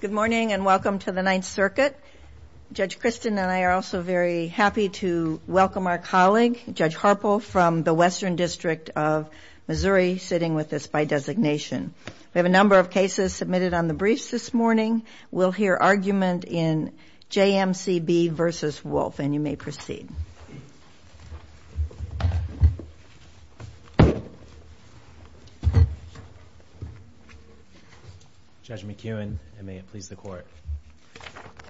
Good morning and welcome to the Ninth Circuit. Judge Christin and I are also very happy to welcome our colleague, Judge Harpo, from the Western District of Missouri, sitting with us by designation. We have a number of cases submitted on the briefs this morning. We'll hear argument in J.M.C.B. v. Wolf, and you may proceed. Judge McEwen, and may it please the Court,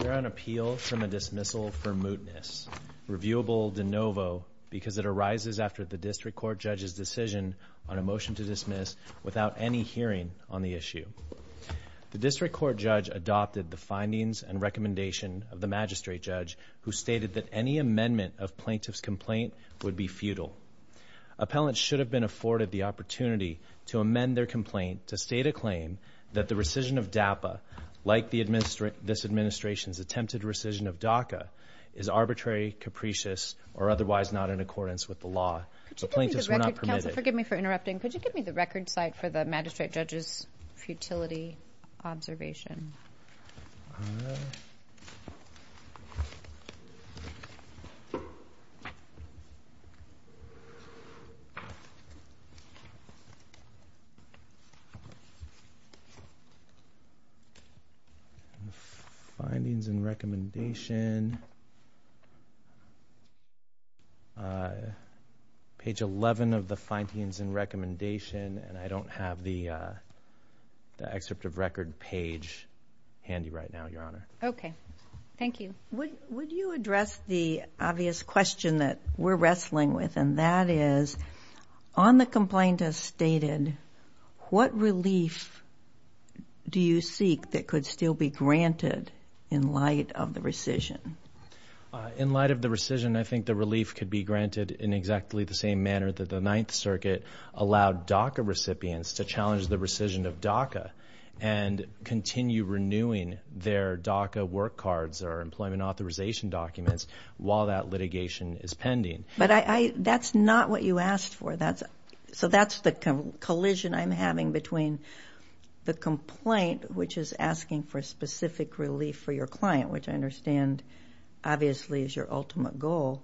we're on appeal from a dismissal for mootness, reviewable de novo, because it arises after the District Court Judge's decision on a motion to dismiss without any hearing on the issue. The District Court Judge adopted the findings and recommendation of the Magistrate Judge, who stated that any amendment of plaintiff's complaint would be futile. Appellants should have been afforded the opportunity to amend their complaint to state a claim that the rescission of DAPA, like this Administration's attempted rescission of DACA, is arbitrary, capricious, or otherwise not in accordance with the law. The plaintiffs were not permitted. Counsel, forgive me for interrupting. Could you give me the record site for the Magistrate Judge's futility observation? Page 11 of the findings and recommendation, and I don't have the excerpt of record page handy right now, Your Honor. Okay. Thank you. Would you address the obvious question that we're wrestling with, and that is, on the complaint as stated, what relief do you seek that could still be granted in light of the rescission? In light of the rescission, I think the relief could be granted in exactly the same manner that the Ninth Circuit allowed DACA recipients to challenge the rescission of DACA and continue renewing their DACA work cards or employment authorization documents while that litigation is pending. But that's not what you asked for. So that's the collision I'm having between the complaint, which is asking for specific relief for your client, which I understand obviously is your ultimate goal,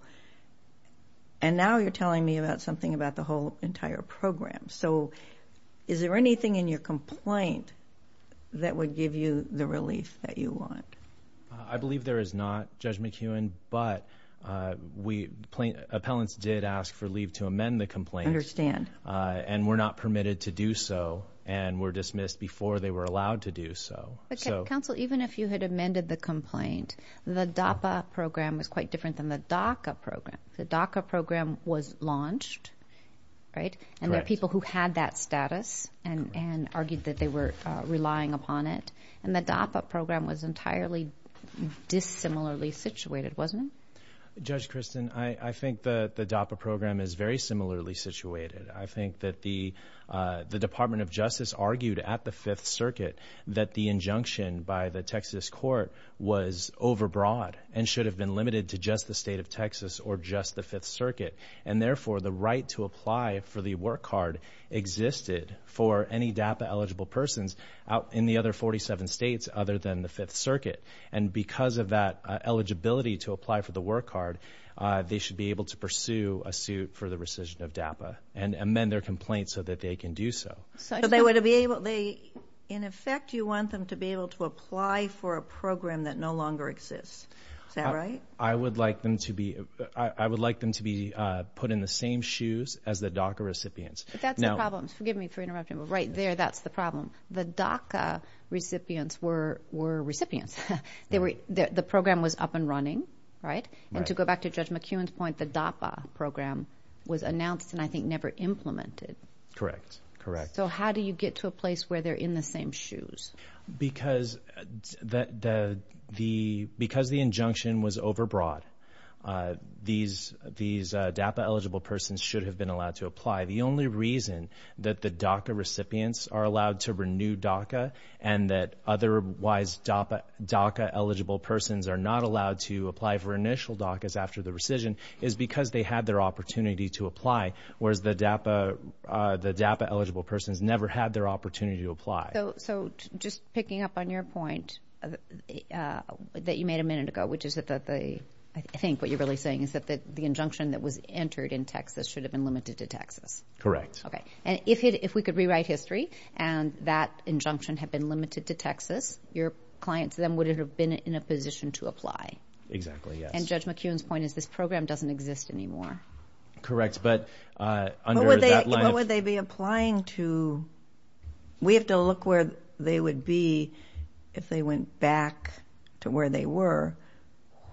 and now you're wanting something about the whole entire program. So is there anything in your complaint that would give you the relief that you want? I believe there is not, Judge McEwen, but appellants did ask for leave to amend the complaint and were not permitted to do so and were dismissed before they were allowed to do so. Okay. Counsel, even if you had amended the complaint, the DAPA program was quite different than the DACA program. The DACA program was launched, right? And there are people who had that status and argued that they were relying upon it. And the DAPA program was entirely dissimilarly situated, wasn't it? Judge Kristen, I think the DAPA program is very similarly situated. I think that the Department of Justice argued at the Fifth Circuit that the injunction by the Texas court was overbroad and should have been limited to just the state of Texas or just the Fifth Circuit. And therefore, the right to apply for the work card existed for any DAPA-eligible persons out in the other 47 states other than the Fifth Circuit. And because of that eligibility to apply for the work card, they should be able to pursue a suit for the rescission of DAPA and amend their complaint so that they can do so. So they would be able to... In effect, you want them to be able to apply for a program that no longer exists, is that right? I would like them to be put in the same shoes as the DACA recipients. But that's the problem. Forgive me for interrupting, but right there, that's the problem. The DACA recipients were recipients. The program was up and running, right? And to go back to Judge McEwen's point, the DAPA program was announced and I think never implemented. Correct. Correct. So how do you get to a place where they're in the same shoes? Because the injunction was overbroad, these DAPA-eligible persons should have been allowed to apply. The only reason that the DACA recipients are allowed to renew DACA and that otherwise DACA-eligible persons are not allowed to apply for initial DACAs after the rescission is because they had their opportunity to apply, whereas the DAPA-eligible persons never had their opportunity to apply. So just picking up on your point that you made a minute ago, which is that the, I think what you're really saying is that the injunction that was entered in Texas should have been limited to Texas. Correct. Okay. And if we could rewrite history and that injunction had been limited to Texas, your clients then would have been in a position to apply. Exactly, yes. And Judge McEwen's point is this program doesn't exist anymore. Correct. But under that line of... What would they be applying to? We have to look where they would be if they went back to where they were.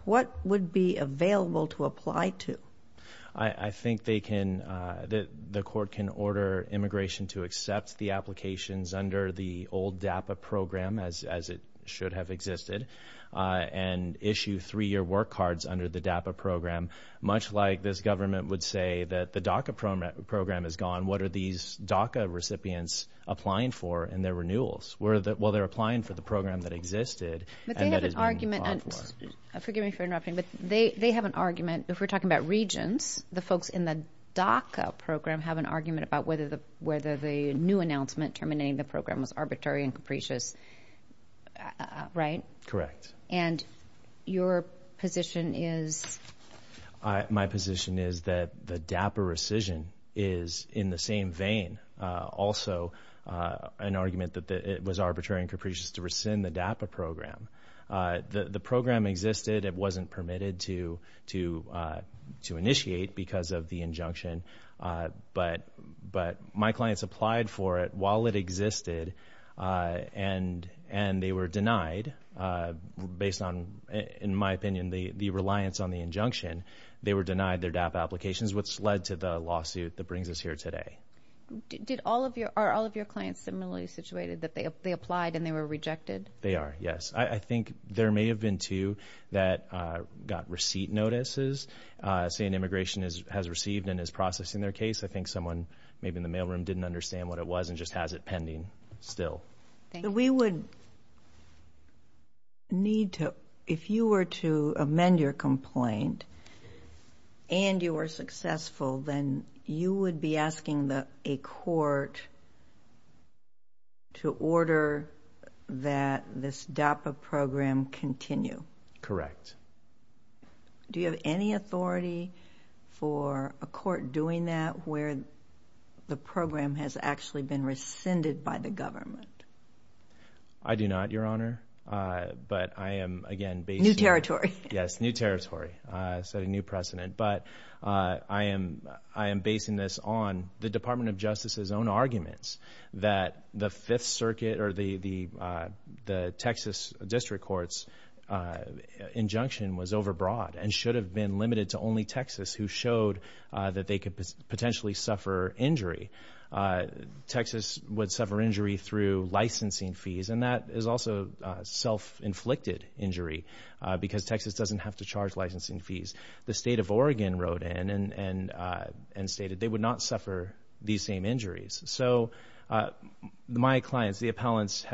What would be available to apply to? I think they can... The court can order immigration to accept the applications under the old DAPA program, as it should have existed, and issue three-year work cards under the DAPA program, much like this government would say that the DACA program is gone. And what are these DACA recipients applying for in their renewals? Well, they're applying for the program that existed and that is being bought for. But they have an argument... Forgive me for interrupting, but they have an argument, if we're talking about regions, the folks in the DACA program have an argument about whether the new announcement terminating the program was arbitrary and capricious, right? Correct. And your position is... My position is that the DAPA rescission is in the same vein. Also an argument that it was arbitrary and capricious to rescind the DAPA program. The program existed, it wasn't permitted to initiate because of the injunction, but my clients applied for it while it existed, and they were denied, based on, in my opinion, the reliance on the injunction, they were denied their DAPA applications, which led to the lawsuit that brings us here today. Did all of your... Are all of your clients similarly situated, that they applied and they were rejected? They are, yes. I think there may have been two that got receipt notices, saying immigration has received and is processing their case. I think someone, maybe in the mailroom, didn't understand what it was and just has it pending still. Thank you. If you would need to, if you were to amend your complaint and you were successful, then you would be asking a court to order that this DAPA program continue? Correct. Do you have any authority for a court doing that where the program has actually been rescinded by the government? I do not, Your Honor, but I am, again, basing... New territory. Yes, new territory. I set a new precedent, but I am basing this on the Department of Justice's own arguments that the Fifth Circuit or the Texas District Court's injunction was overbroad and should have been limited to only Texas, who showed that they could potentially suffer injury. Texas would suffer injury through licensing fees, and that is also self-inflicted injury because Texas doesn't have to charge licensing fees. The state of Oregon wrote in and stated they would not suffer these same injuries. So my clients, the appellants,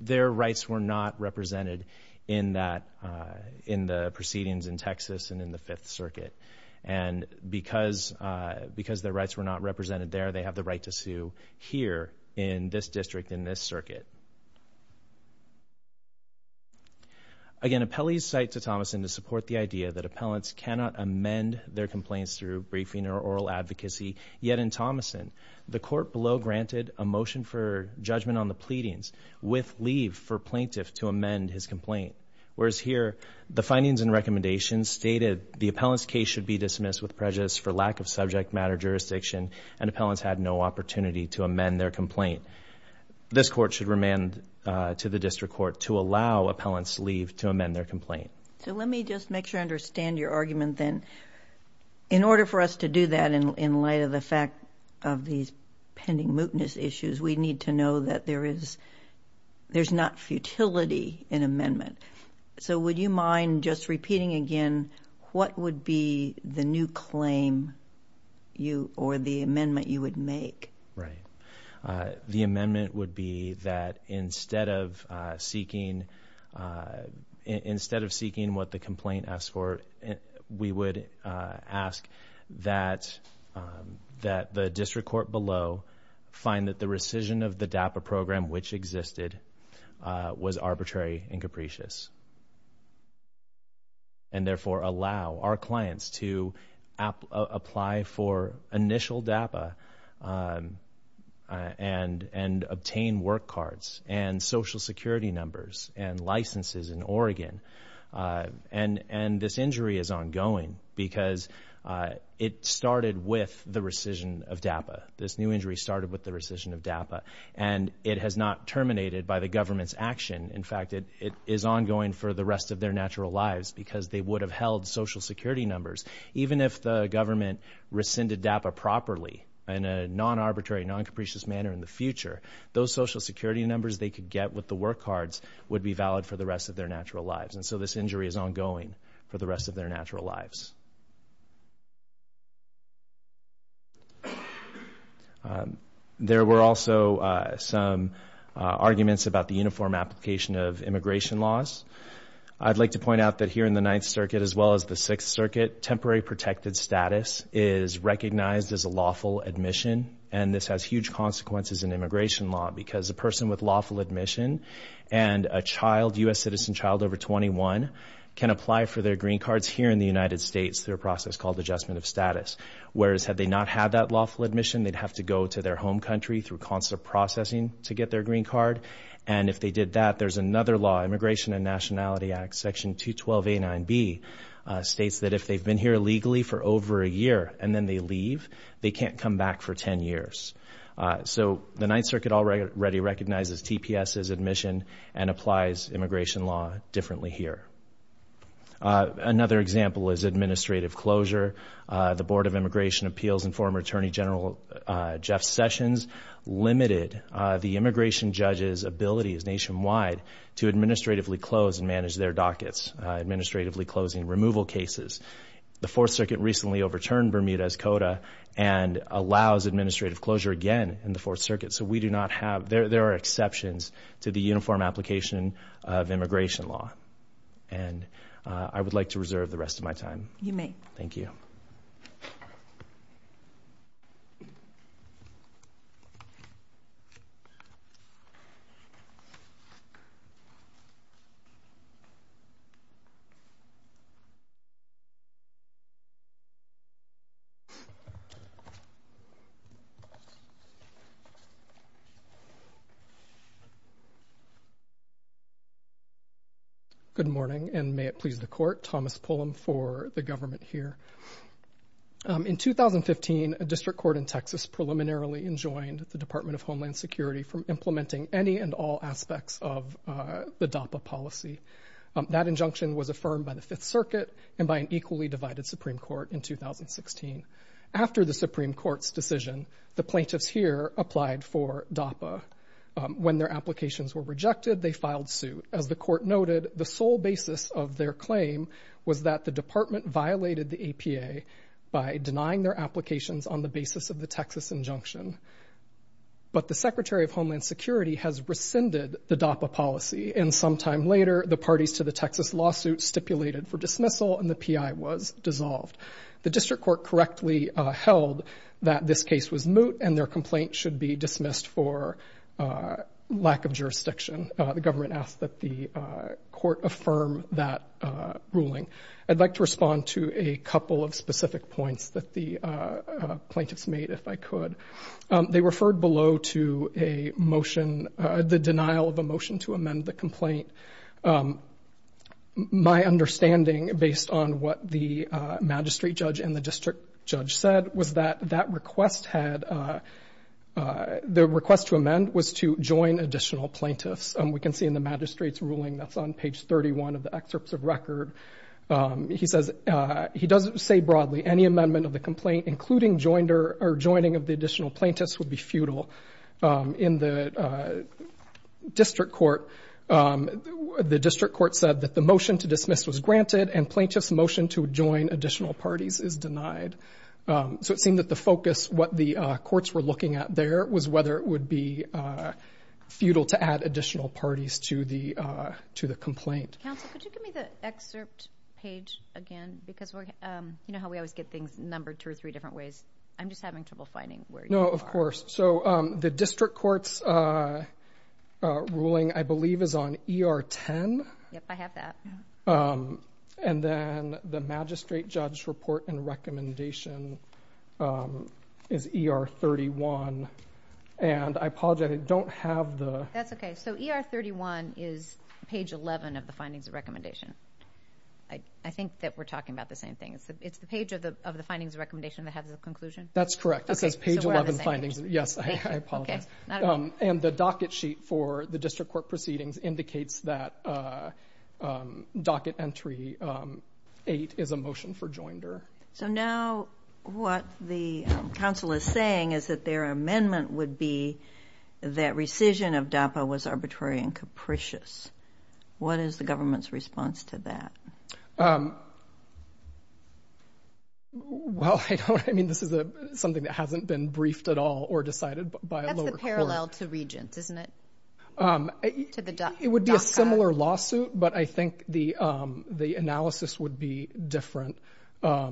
their rights were not represented in the proceedings in Texas and in the Fifth Circuit, and because their rights were not represented there, they have the right to sue here in this district, in this circuit. Again, appellees cite to Thomason to support the idea that appellants cannot amend their complaints through briefing or oral advocacy, yet in Thomason, the court below granted a motion for judgment on the pleadings with leave for plaintiffs to amend his complaint, whereas here, the findings and recommendations stated the appellant's case should be dismissed with prejudice for lack of subject matter jurisdiction, and appellants had no opportunity to amend their complaint. This court should remand to the district court to allow appellants leave to amend their complaint. So let me just make sure I understand your argument then. In order for us to do that in light of the fact of these pending mootness issues, we need to know that there is not futility in amendment. So would you mind just repeating again, what would be the new claim or the amendment you would make? The amendment would be that instead of seeking what the complaint asks for, we would ask that the district court below find that the rescission of the DAPA program, which existed, was arbitrary and capricious, and therefore allow our clients to apply for initial DAPA and obtain work cards and social security numbers and licenses in Oregon. And this injury is ongoing because it started with the rescission of DAPA. This new injury started with the rescission of DAPA, and it has not terminated by the government's action. In fact, it is ongoing for the rest of their natural lives because they would have held social security numbers. Even if the government rescinded DAPA properly in a non-arbitrary, non-capricious manner in the future, those social security numbers they could get with the work cards would be valid for the rest of their natural lives. And so this injury is ongoing for the rest of their natural lives. There were also some arguments about the uniform application of immigration laws. I'd like to point out that here in the Ninth Circuit, as well as the Sixth Circuit, temporary protected status is recognized as a lawful admission, and this has huge consequences in immigration law because a person with lawful admission and a child, U.S. citizen child over 21, can apply for their green cards here in the United States. through a process called adjustment of status. Whereas had they not had that lawful admission, they'd have to go to their home country through constant processing to get their green card. And if they did that, there's another law, Immigration and Nationality Act, Section 212 A9B, states that if they've been here illegally for over a year and then they leave, they can't come back for 10 years. So the Ninth Circuit already recognizes TPS as admission and applies immigration law differently here. Another example is administrative closure. The Board of Immigration Appeals and former Attorney General Jeff Sessions limited the immigration judges' ability nationwide to administratively close and manage their dockets, administratively closing removal cases. The Fourth Circuit recently overturned Bermuda's CODA and allows administrative closure again in the Fourth Circuit. So we do not have, there are exceptions to the uniform application of immigration law. And I would like to reserve the rest of my time. You may. Thank you. Good morning, and may it please the Court, Thomas Pullum for the government here. In 2015, a district court in Texas preliminarily enjoined the Department of Homeland Security from implementing any and all aspects of the DAPA policy. That injunction was affirmed by the Fifth Circuit and by an equally divided Supreme Court in 2016. After the Supreme Court's decision, the plaintiffs here applied for DAPA. When their applications were rejected, they filed suit. As the Court noted, the sole basis of their claim was that the Department violated the APA by denying their applications on the basis of the Texas injunction. But the Secretary of Homeland Security has rescinded the DAPA policy, and some time later, the parties to the Texas lawsuit stipulated for dismissal and the PI was dissolved. The district court correctly held that this case was moot and their complaint should be dismissed for lack of jurisdiction. The government asked that the Court affirm that ruling. I'd like to respond to a couple of specific points that the plaintiffs made, if I could. They referred below to a motion, the denial of a motion to amend the complaint. My understanding, based on what the magistrate judge and the district judge said, was that that request had, the request to amend was to join additional plaintiffs. We can see in the magistrate's ruling, that's on page 31 of the excerpts of record, he says, he doesn't say broadly, any amendment of the complaint, including joining of the additional plaintiffs would be futile. In the district court, the district court said that the motion to dismiss was granted and plaintiffs' motion to join additional parties is denied. So it seemed that the focus, what the courts were looking at there, was whether it would be futile to add additional parties to the complaint. Counsel, could you give me the excerpt page again? Because you know how we always get things numbered two or three different ways. I'm just having trouble finding where you are. No, of course. So, the district court's ruling, I believe, is on ER 10. Yep, I have that. And then the magistrate judge's report and recommendation is ER 31. And I apologize, I don't have the... That's okay. So ER 31 is page 11 of the findings of recommendation. I think that we're talking about the same thing. It's the page of the findings of recommendation that has the conclusion? That's correct. It says page 11 findings. So we're on the same page. Yes, I apologize. And the docket sheet for the district court proceedings indicates that docket entry eight is a motion for joinder. So now what the counsel is saying is that their amendment would be that rescission of DAPA was arbitrary and capricious. What is the government's response to that? Well, I mean, this is something that hasn't been briefed at all or decided by a lower court. That's the parallel to Regents, isn't it? It would be a similar lawsuit, but I think the analysis would be different. As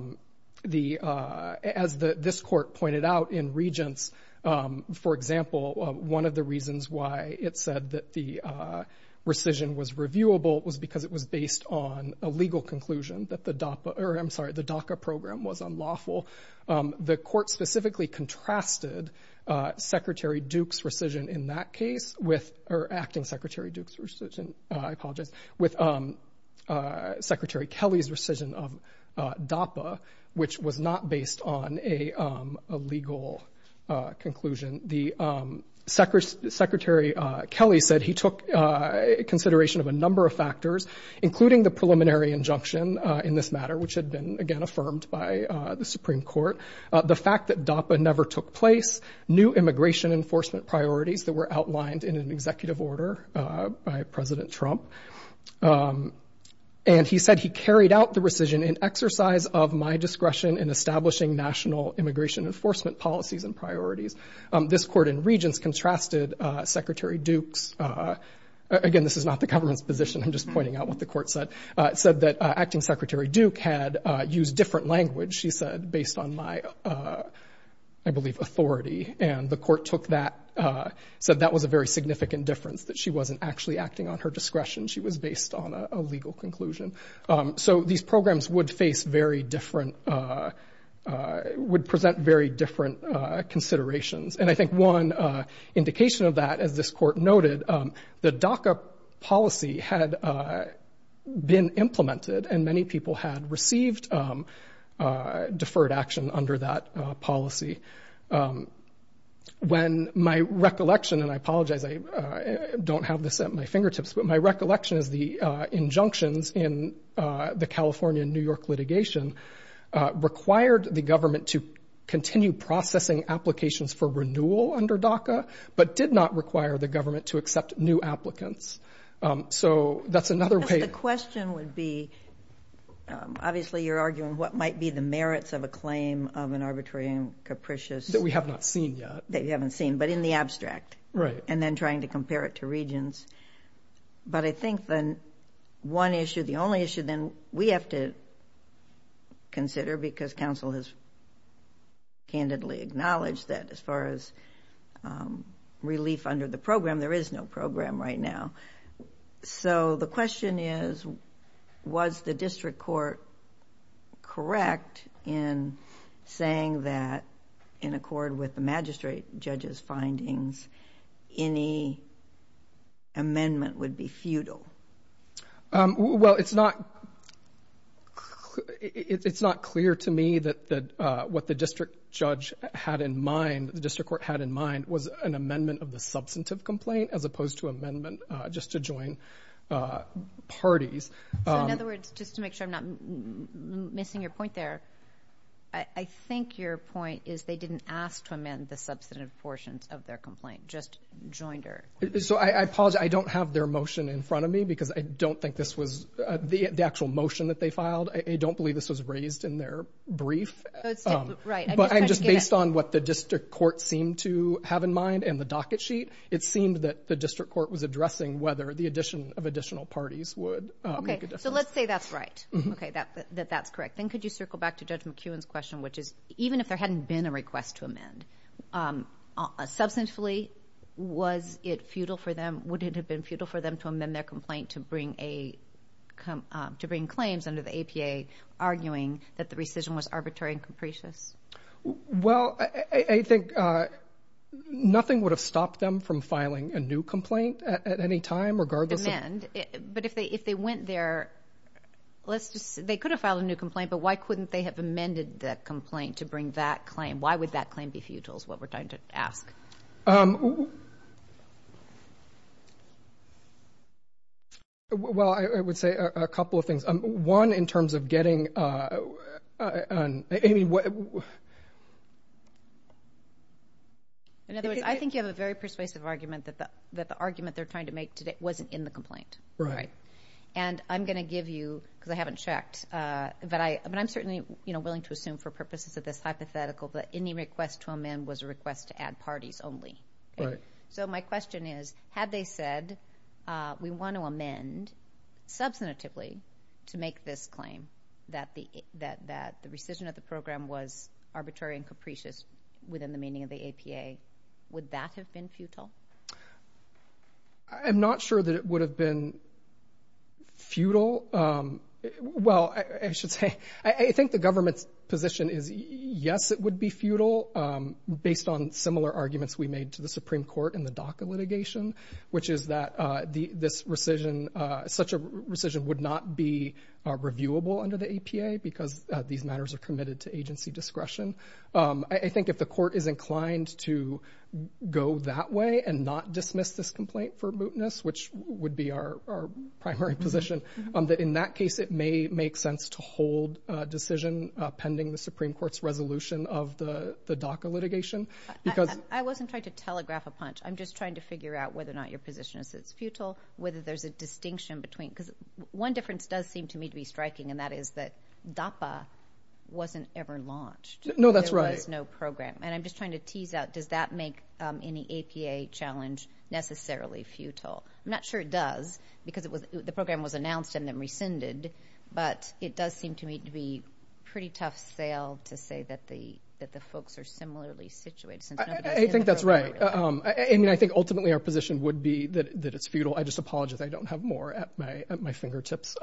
this court pointed out in Regents, for example, one of the reasons why it said that the rescission was reviewable was because it was based on a legal conclusion that the DACA program was unlawful. The court specifically contrasted Secretary Duke's rescission in that case, or acting Secretary Duke's rescission, I apologize, with Secretary Kelly's rescission of DAPA, which was not based on a legal conclusion. The Secretary Kelly said he took consideration of a number of factors, including the preliminary injunction in this matter, which had been, again, affirmed by the Supreme Court. The fact that DAPA never took place, new immigration enforcement priorities that were outlined in an executive order by President Trump. And he said he carried out the rescission in exercise of my discretion in establishing national immigration enforcement policies and priorities. This court in Regents contrasted Secretary Duke's, again, this is not the government's position, I'm just pointing out what the court said, said that acting Secretary Duke had used different language, she said, based on my, I believe, authority. And the court took that, said that was a very significant difference, that she wasn't actually acting on her discretion, she was based on a legal conclusion. So these programs would face very different, would present very different considerations. And I think one indication of that, as this court noted, the DACA policy had been implemented and many people had received deferred action under that policy. When my recollection, and I apologize, I don't have this at my fingertips, but my recollection is the injunctions in the California and New York litigation required the government to continue processing applications for renewal under DACA, but did not require the government to accept new applicants. So that's another way- I guess the question would be, obviously you're arguing what might be the merits of a claim of an arbitrary and capricious- That we have not seen yet. That you haven't seen, but in the abstract. Right. And then trying to compare it to Regents. But I think the one issue, the only issue then, we have to consider because counsel has candidly acknowledged that as far as relief under the program, there is no program right now. So the question is, was the district court correct in saying that in accord with amendment would be futile? Well, it's not clear to me that what the district judge had in mind, the district court had in mind was an amendment of the substantive complaint as opposed to amendment just to join parties. So in other words, just to make sure I'm not missing your point there, I think your point is they didn't ask to amend the substantive portions of their complaint, just joined her. So I apologize. I don't have their motion in front of me because I don't think this was the actual motion that they filed. I don't believe this was raised in their brief, but I'm just based on what the district court seemed to have in mind and the docket sheet. It seemed that the district court was addressing whether the addition of additional parties would make a difference. Okay. So let's say that's right. Okay. That that's correct. Then could you circle back to Judge McEwen's question, which is even if there hadn't been a request to amend, substantively, was it futile for them, would it have been futile for them to amend their complaint to bring a, to bring claims under the APA, arguing that the rescission was arbitrary and capricious? Well I think nothing would have stopped them from filing a new complaint at any time regardless of... Amend. But if they, if they went there, let's just say they could have filed a new complaint, but why couldn't they have amended that complaint to bring that claim? Why would that claim be futile is what we're trying to ask. Well I would say a couple of things. One in terms of getting, I mean what... In other words, I think you have a very persuasive argument that the argument they're trying to make today wasn't in the complaint. Right. And I'm going to give you, because I haven't checked, but I'm certainly willing to assume for purposes of this hypothetical that any request to amend was a request to add parties only. Right. So my question is, had they said, we want to amend substantively to make this claim that the rescission of the program was arbitrary and capricious within the meaning of the APA, would that have been futile? I'm not sure that it would have been futile. Well, I should say, I think the government's position is yes, it would be futile based on similar arguments we made to the Supreme Court in the DACA litigation, which is that this rescission, such a rescission would not be reviewable under the APA because these matters are committed to agency discretion. I think if the court is inclined to go that way and not dismiss this complaint for mootness, which would be our primary position, that in that case it may make sense to hold a decision pending the Supreme Court's resolution of the DACA litigation. I wasn't trying to telegraph a punch. I'm just trying to figure out whether or not your position is it's futile, whether there's a distinction between, because one difference does seem to me to be striking, and that is that DAPA wasn't ever launched. No, that's right. There was no program. And I'm just trying to tease out, does that make any APA challenge necessarily futile? I'm not sure it does because the program was announced and then rescinded, but it does seem to me to be pretty tough sale to say that the folks are similarly situated. I think that's right. I think ultimately our position would be that it's futile. I just apologize. I don't have more at my fingertips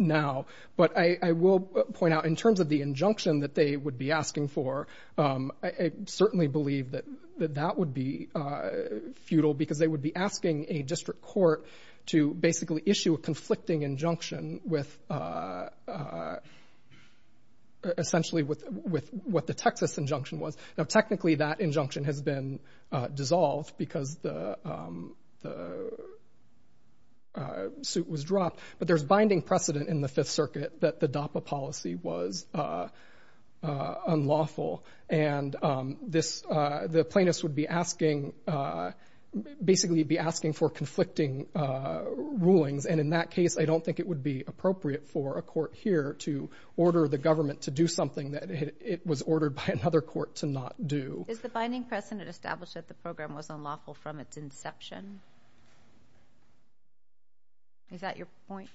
now. But I will point out in terms of the injunction that they would be asking for, I certainly believe that that would be futile because they would be asking a district court to basically issue a conflicting injunction with essentially with what the Texas injunction was. Now, technically that injunction has been dissolved because the suit was dropped, but there's binding precedent in the Fifth Circuit that the DAPA policy was unlawful. And the plaintiffs would be asking, basically be asking for conflicting rulings. And in that case, I don't think it would be appropriate for a court here to order the Is the binding precedent established that the program was unlawful from its inception? Is that your point?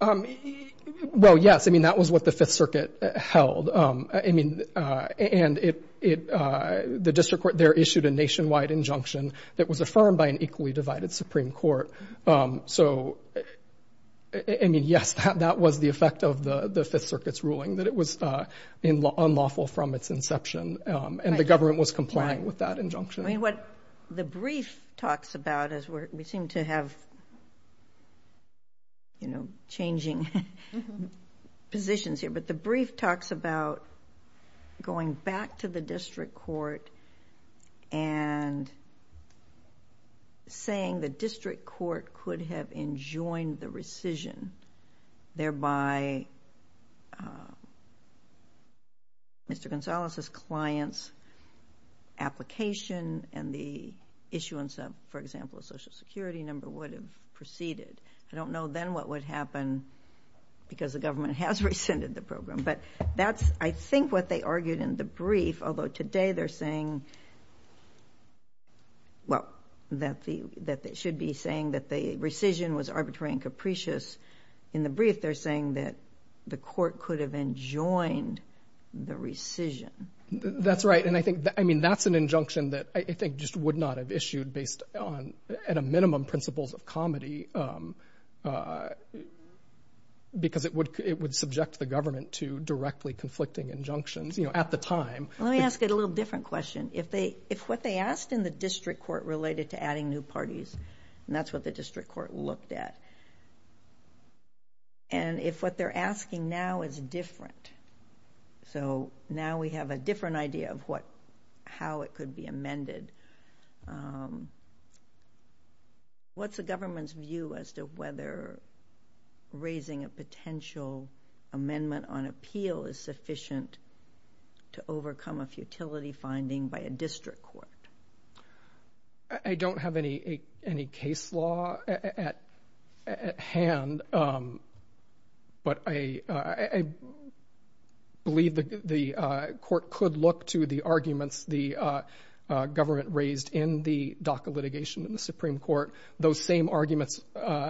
Well, yes. I mean, that was what the Fifth Circuit held. I mean, and the district court there issued a nationwide injunction that was affirmed by an equally divided Supreme Court. So I mean, yes, that was the effect of the Fifth Circuit's ruling that it was unlawful from its inception and the government was complying with that injunction. I mean, what the brief talks about is we seem to have, you know, changing positions here, but the brief talks about going back to the district court and saying the district court could have enjoined the rescission, thereby Mr. Gonzalez's client's application and the issuance of, for example, a Social Security number would have proceeded. I don't know then what would happen because the government has rescinded the program. But that's, I think, what they argued in the brief, although today they're saying, well, that they should be saying that the rescission was arbitrary and capricious. In the brief, they're saying that the court could have enjoined the rescission. That's right, and I think, I mean, that's an injunction that I think just would not have issued based on, at a minimum, principles of comedy because it would subject the government to directly conflicting injunctions, you know, at the time. Let me ask you a little different question. If what they asked in the district court related to adding new parties, and that's what the district court looked at, and if what they're asking now is different, so now we have a different idea of how it could be amended, what's the government's view as to whether raising a potential amendment on appeal is sufficient to overcome a futility finding by a district court? I don't have any case law at hand, but I believe the court could look to the arguments the government raised in the DACA litigation in the Supreme Court, those same arguments,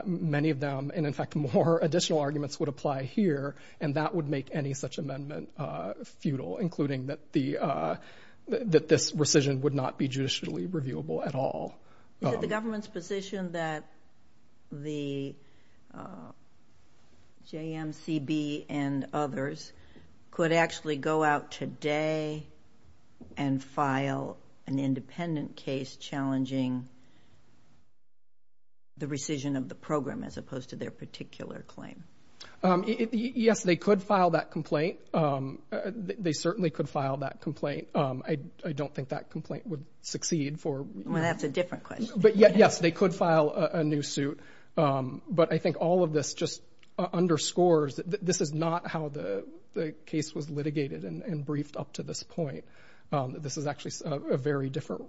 many of them, and in fact, more additional arguments would apply here, and that would make any such amendment futile, including that this rescission would not be judicially reviewable at all. Is it the government's position that the JMCB and others could actually go out today and file an independent case challenging the rescission of the program as opposed to their particular claim? Yes, they could file that complaint. They certainly could file that complaint. I don't think that complaint would succeed for... Well, that's a different question. But yes, they could file a new suit, but I think all of this just underscores that this is not how the case was litigated and briefed up to this point. This is actually a very different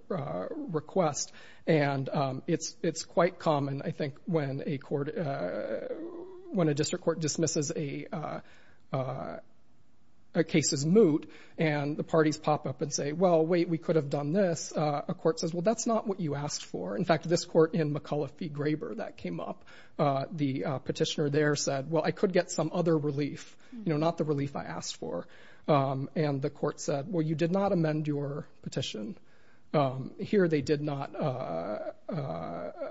request, and it's quite common, I think, when a district court dismisses a case's moot and the parties pop up and say, well, wait, we could have done this. A court says, well, that's not what you asked for. In fact, this court in McAuliffe v. Graeber that came up, the petitioner there said, well, I could get some other relief, not the relief I asked for. And the court said, well, you did not amend your petition. Here they did not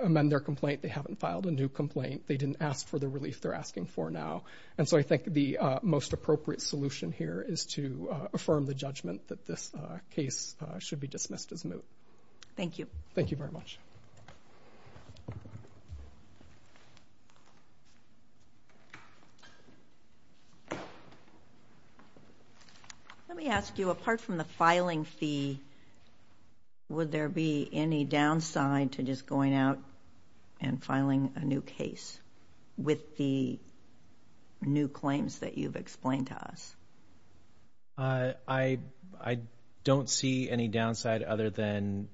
amend their complaint. They haven't filed a new complaint. They didn't ask for the relief they're asking for now. And so I think the most appropriate solution here is to affirm the judgment that this case should be dismissed as moot. Thank you. Thank you very much. Let me ask you, apart from the filing fee, would there be any downside to just going out and filing a new case with the new claims that you've explained to us? I don't see any downside other than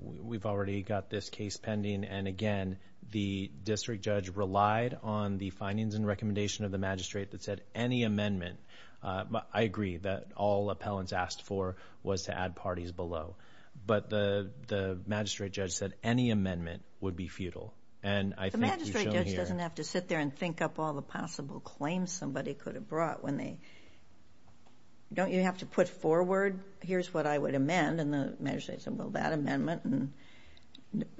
we've already got this case pending, and again, the district judge relied on the findings and recommendation of the magistrate that said any amendment, I agree, that all appellants asked for was to add parties below. But the magistrate judge said any amendment would be futile. And I think you've shown here... The magistrate judge doesn't have to sit there and think up all the possible claims somebody could have brought when they... don't you have to put forward, here's what I would amend, and the magistrate says, well, that amendment, and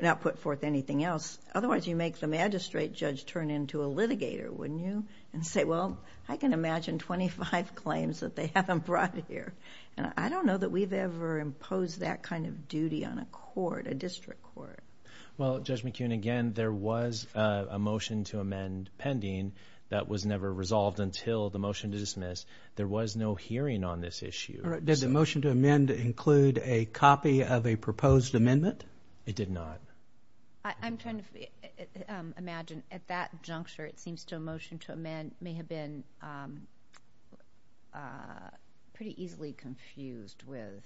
not put forth anything else. Otherwise, you make the magistrate judge turn into a litigator, wouldn't you? And say, well, I can imagine 25 claims that they haven't brought here. I don't know that we've ever imposed that kind of duty on a court, a district court. Well, Judge McKeon, again, there was a motion to amend pending that was never resolved until the motion to dismiss. There was no hearing on this issue. All right. Did the motion to amend include a copy of a proposed amendment? It did not. I'm trying to imagine at that juncture, it seems to motion to amend may have been pretty easily confused with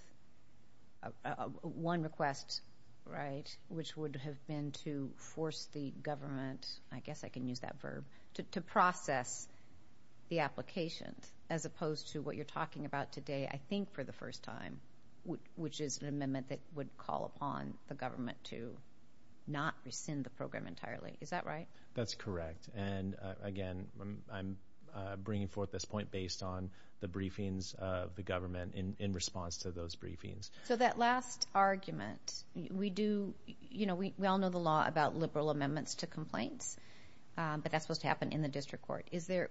one request, right, which would have been to force the government, I guess I can use that verb, to process the application, as opposed to what you're talking about today, I think for the first time, which is an amendment that would call upon the government to not rescind the program entirely. Is that right? That's correct. And again, I'm bringing forth this point based on the briefings of the government in response to those briefings. So that last argument, we do, you know, we all know the law about liberal amendments to complaints, but that's supposed to happen in the district court. Is there,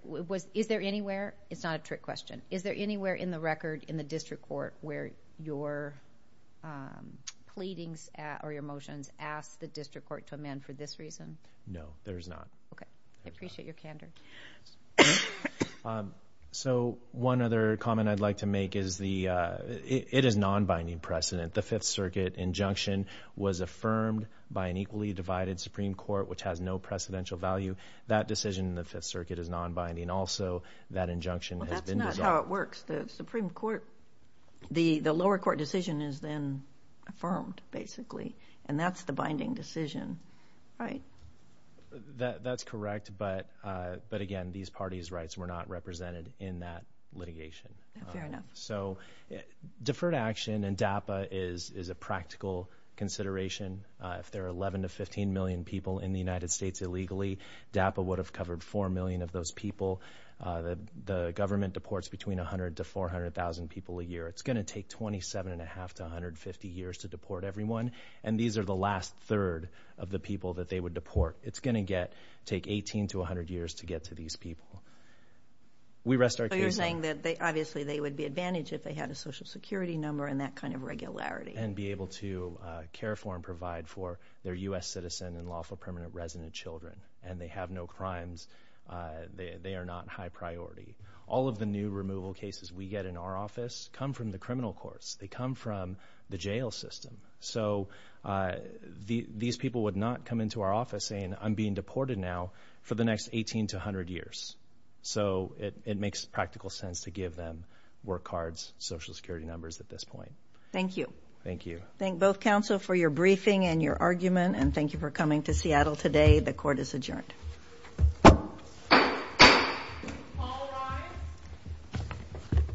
is there anywhere, it's not a trick question, is there anywhere in the record in the district court where your pleadings or your motions ask the district court to amend for this reason? No, there is not. Okay. I appreciate your candor. So one other comment I'd like to make is the, it is non-binding precedent. The Fifth Circuit injunction was affirmed by an equally divided Supreme Court, which has no precedential value. That decision in the Fifth Circuit is non-binding also. That injunction has been dissolved. Well, that's not how it works. The Supreme Court, the lower court decision is then affirmed, basically, and that's the binding decision, right? That, that's correct, but, but again, these parties' rights were not represented in that litigation. Fair enough. So deferred action and DAPA is, is a practical consideration. If there are 11 to 15 million people in the United States illegally, DAPA would have covered four million of those people. The government deports between 100 to 400,000 people a year. It's going to take 27 and a half to 150 years to deport everyone, and these are the last third of the people that they would deport. It's going to get, take 18 to 100 years to get to these people. We rest our case on that. So you're saying that they, obviously, they would be advantaged if they had a social security number and that kind of regularity. And be able to care for and provide for their U.S. citizen and lawful permanent resident children, and they have no crimes, they, they are not high priority. All of the new removal cases we get in our office come from the criminal courts. They come from the jail system. So these people would not come into our office saying, I'm being deported now for the next 18 to 100 years. So it, it makes practical sense to give them work cards, social security numbers at this point. Thank you. Thank you. Thank both counsel for your briefing and your argument, and thank you for coming to Seattle today. The court is adjourned.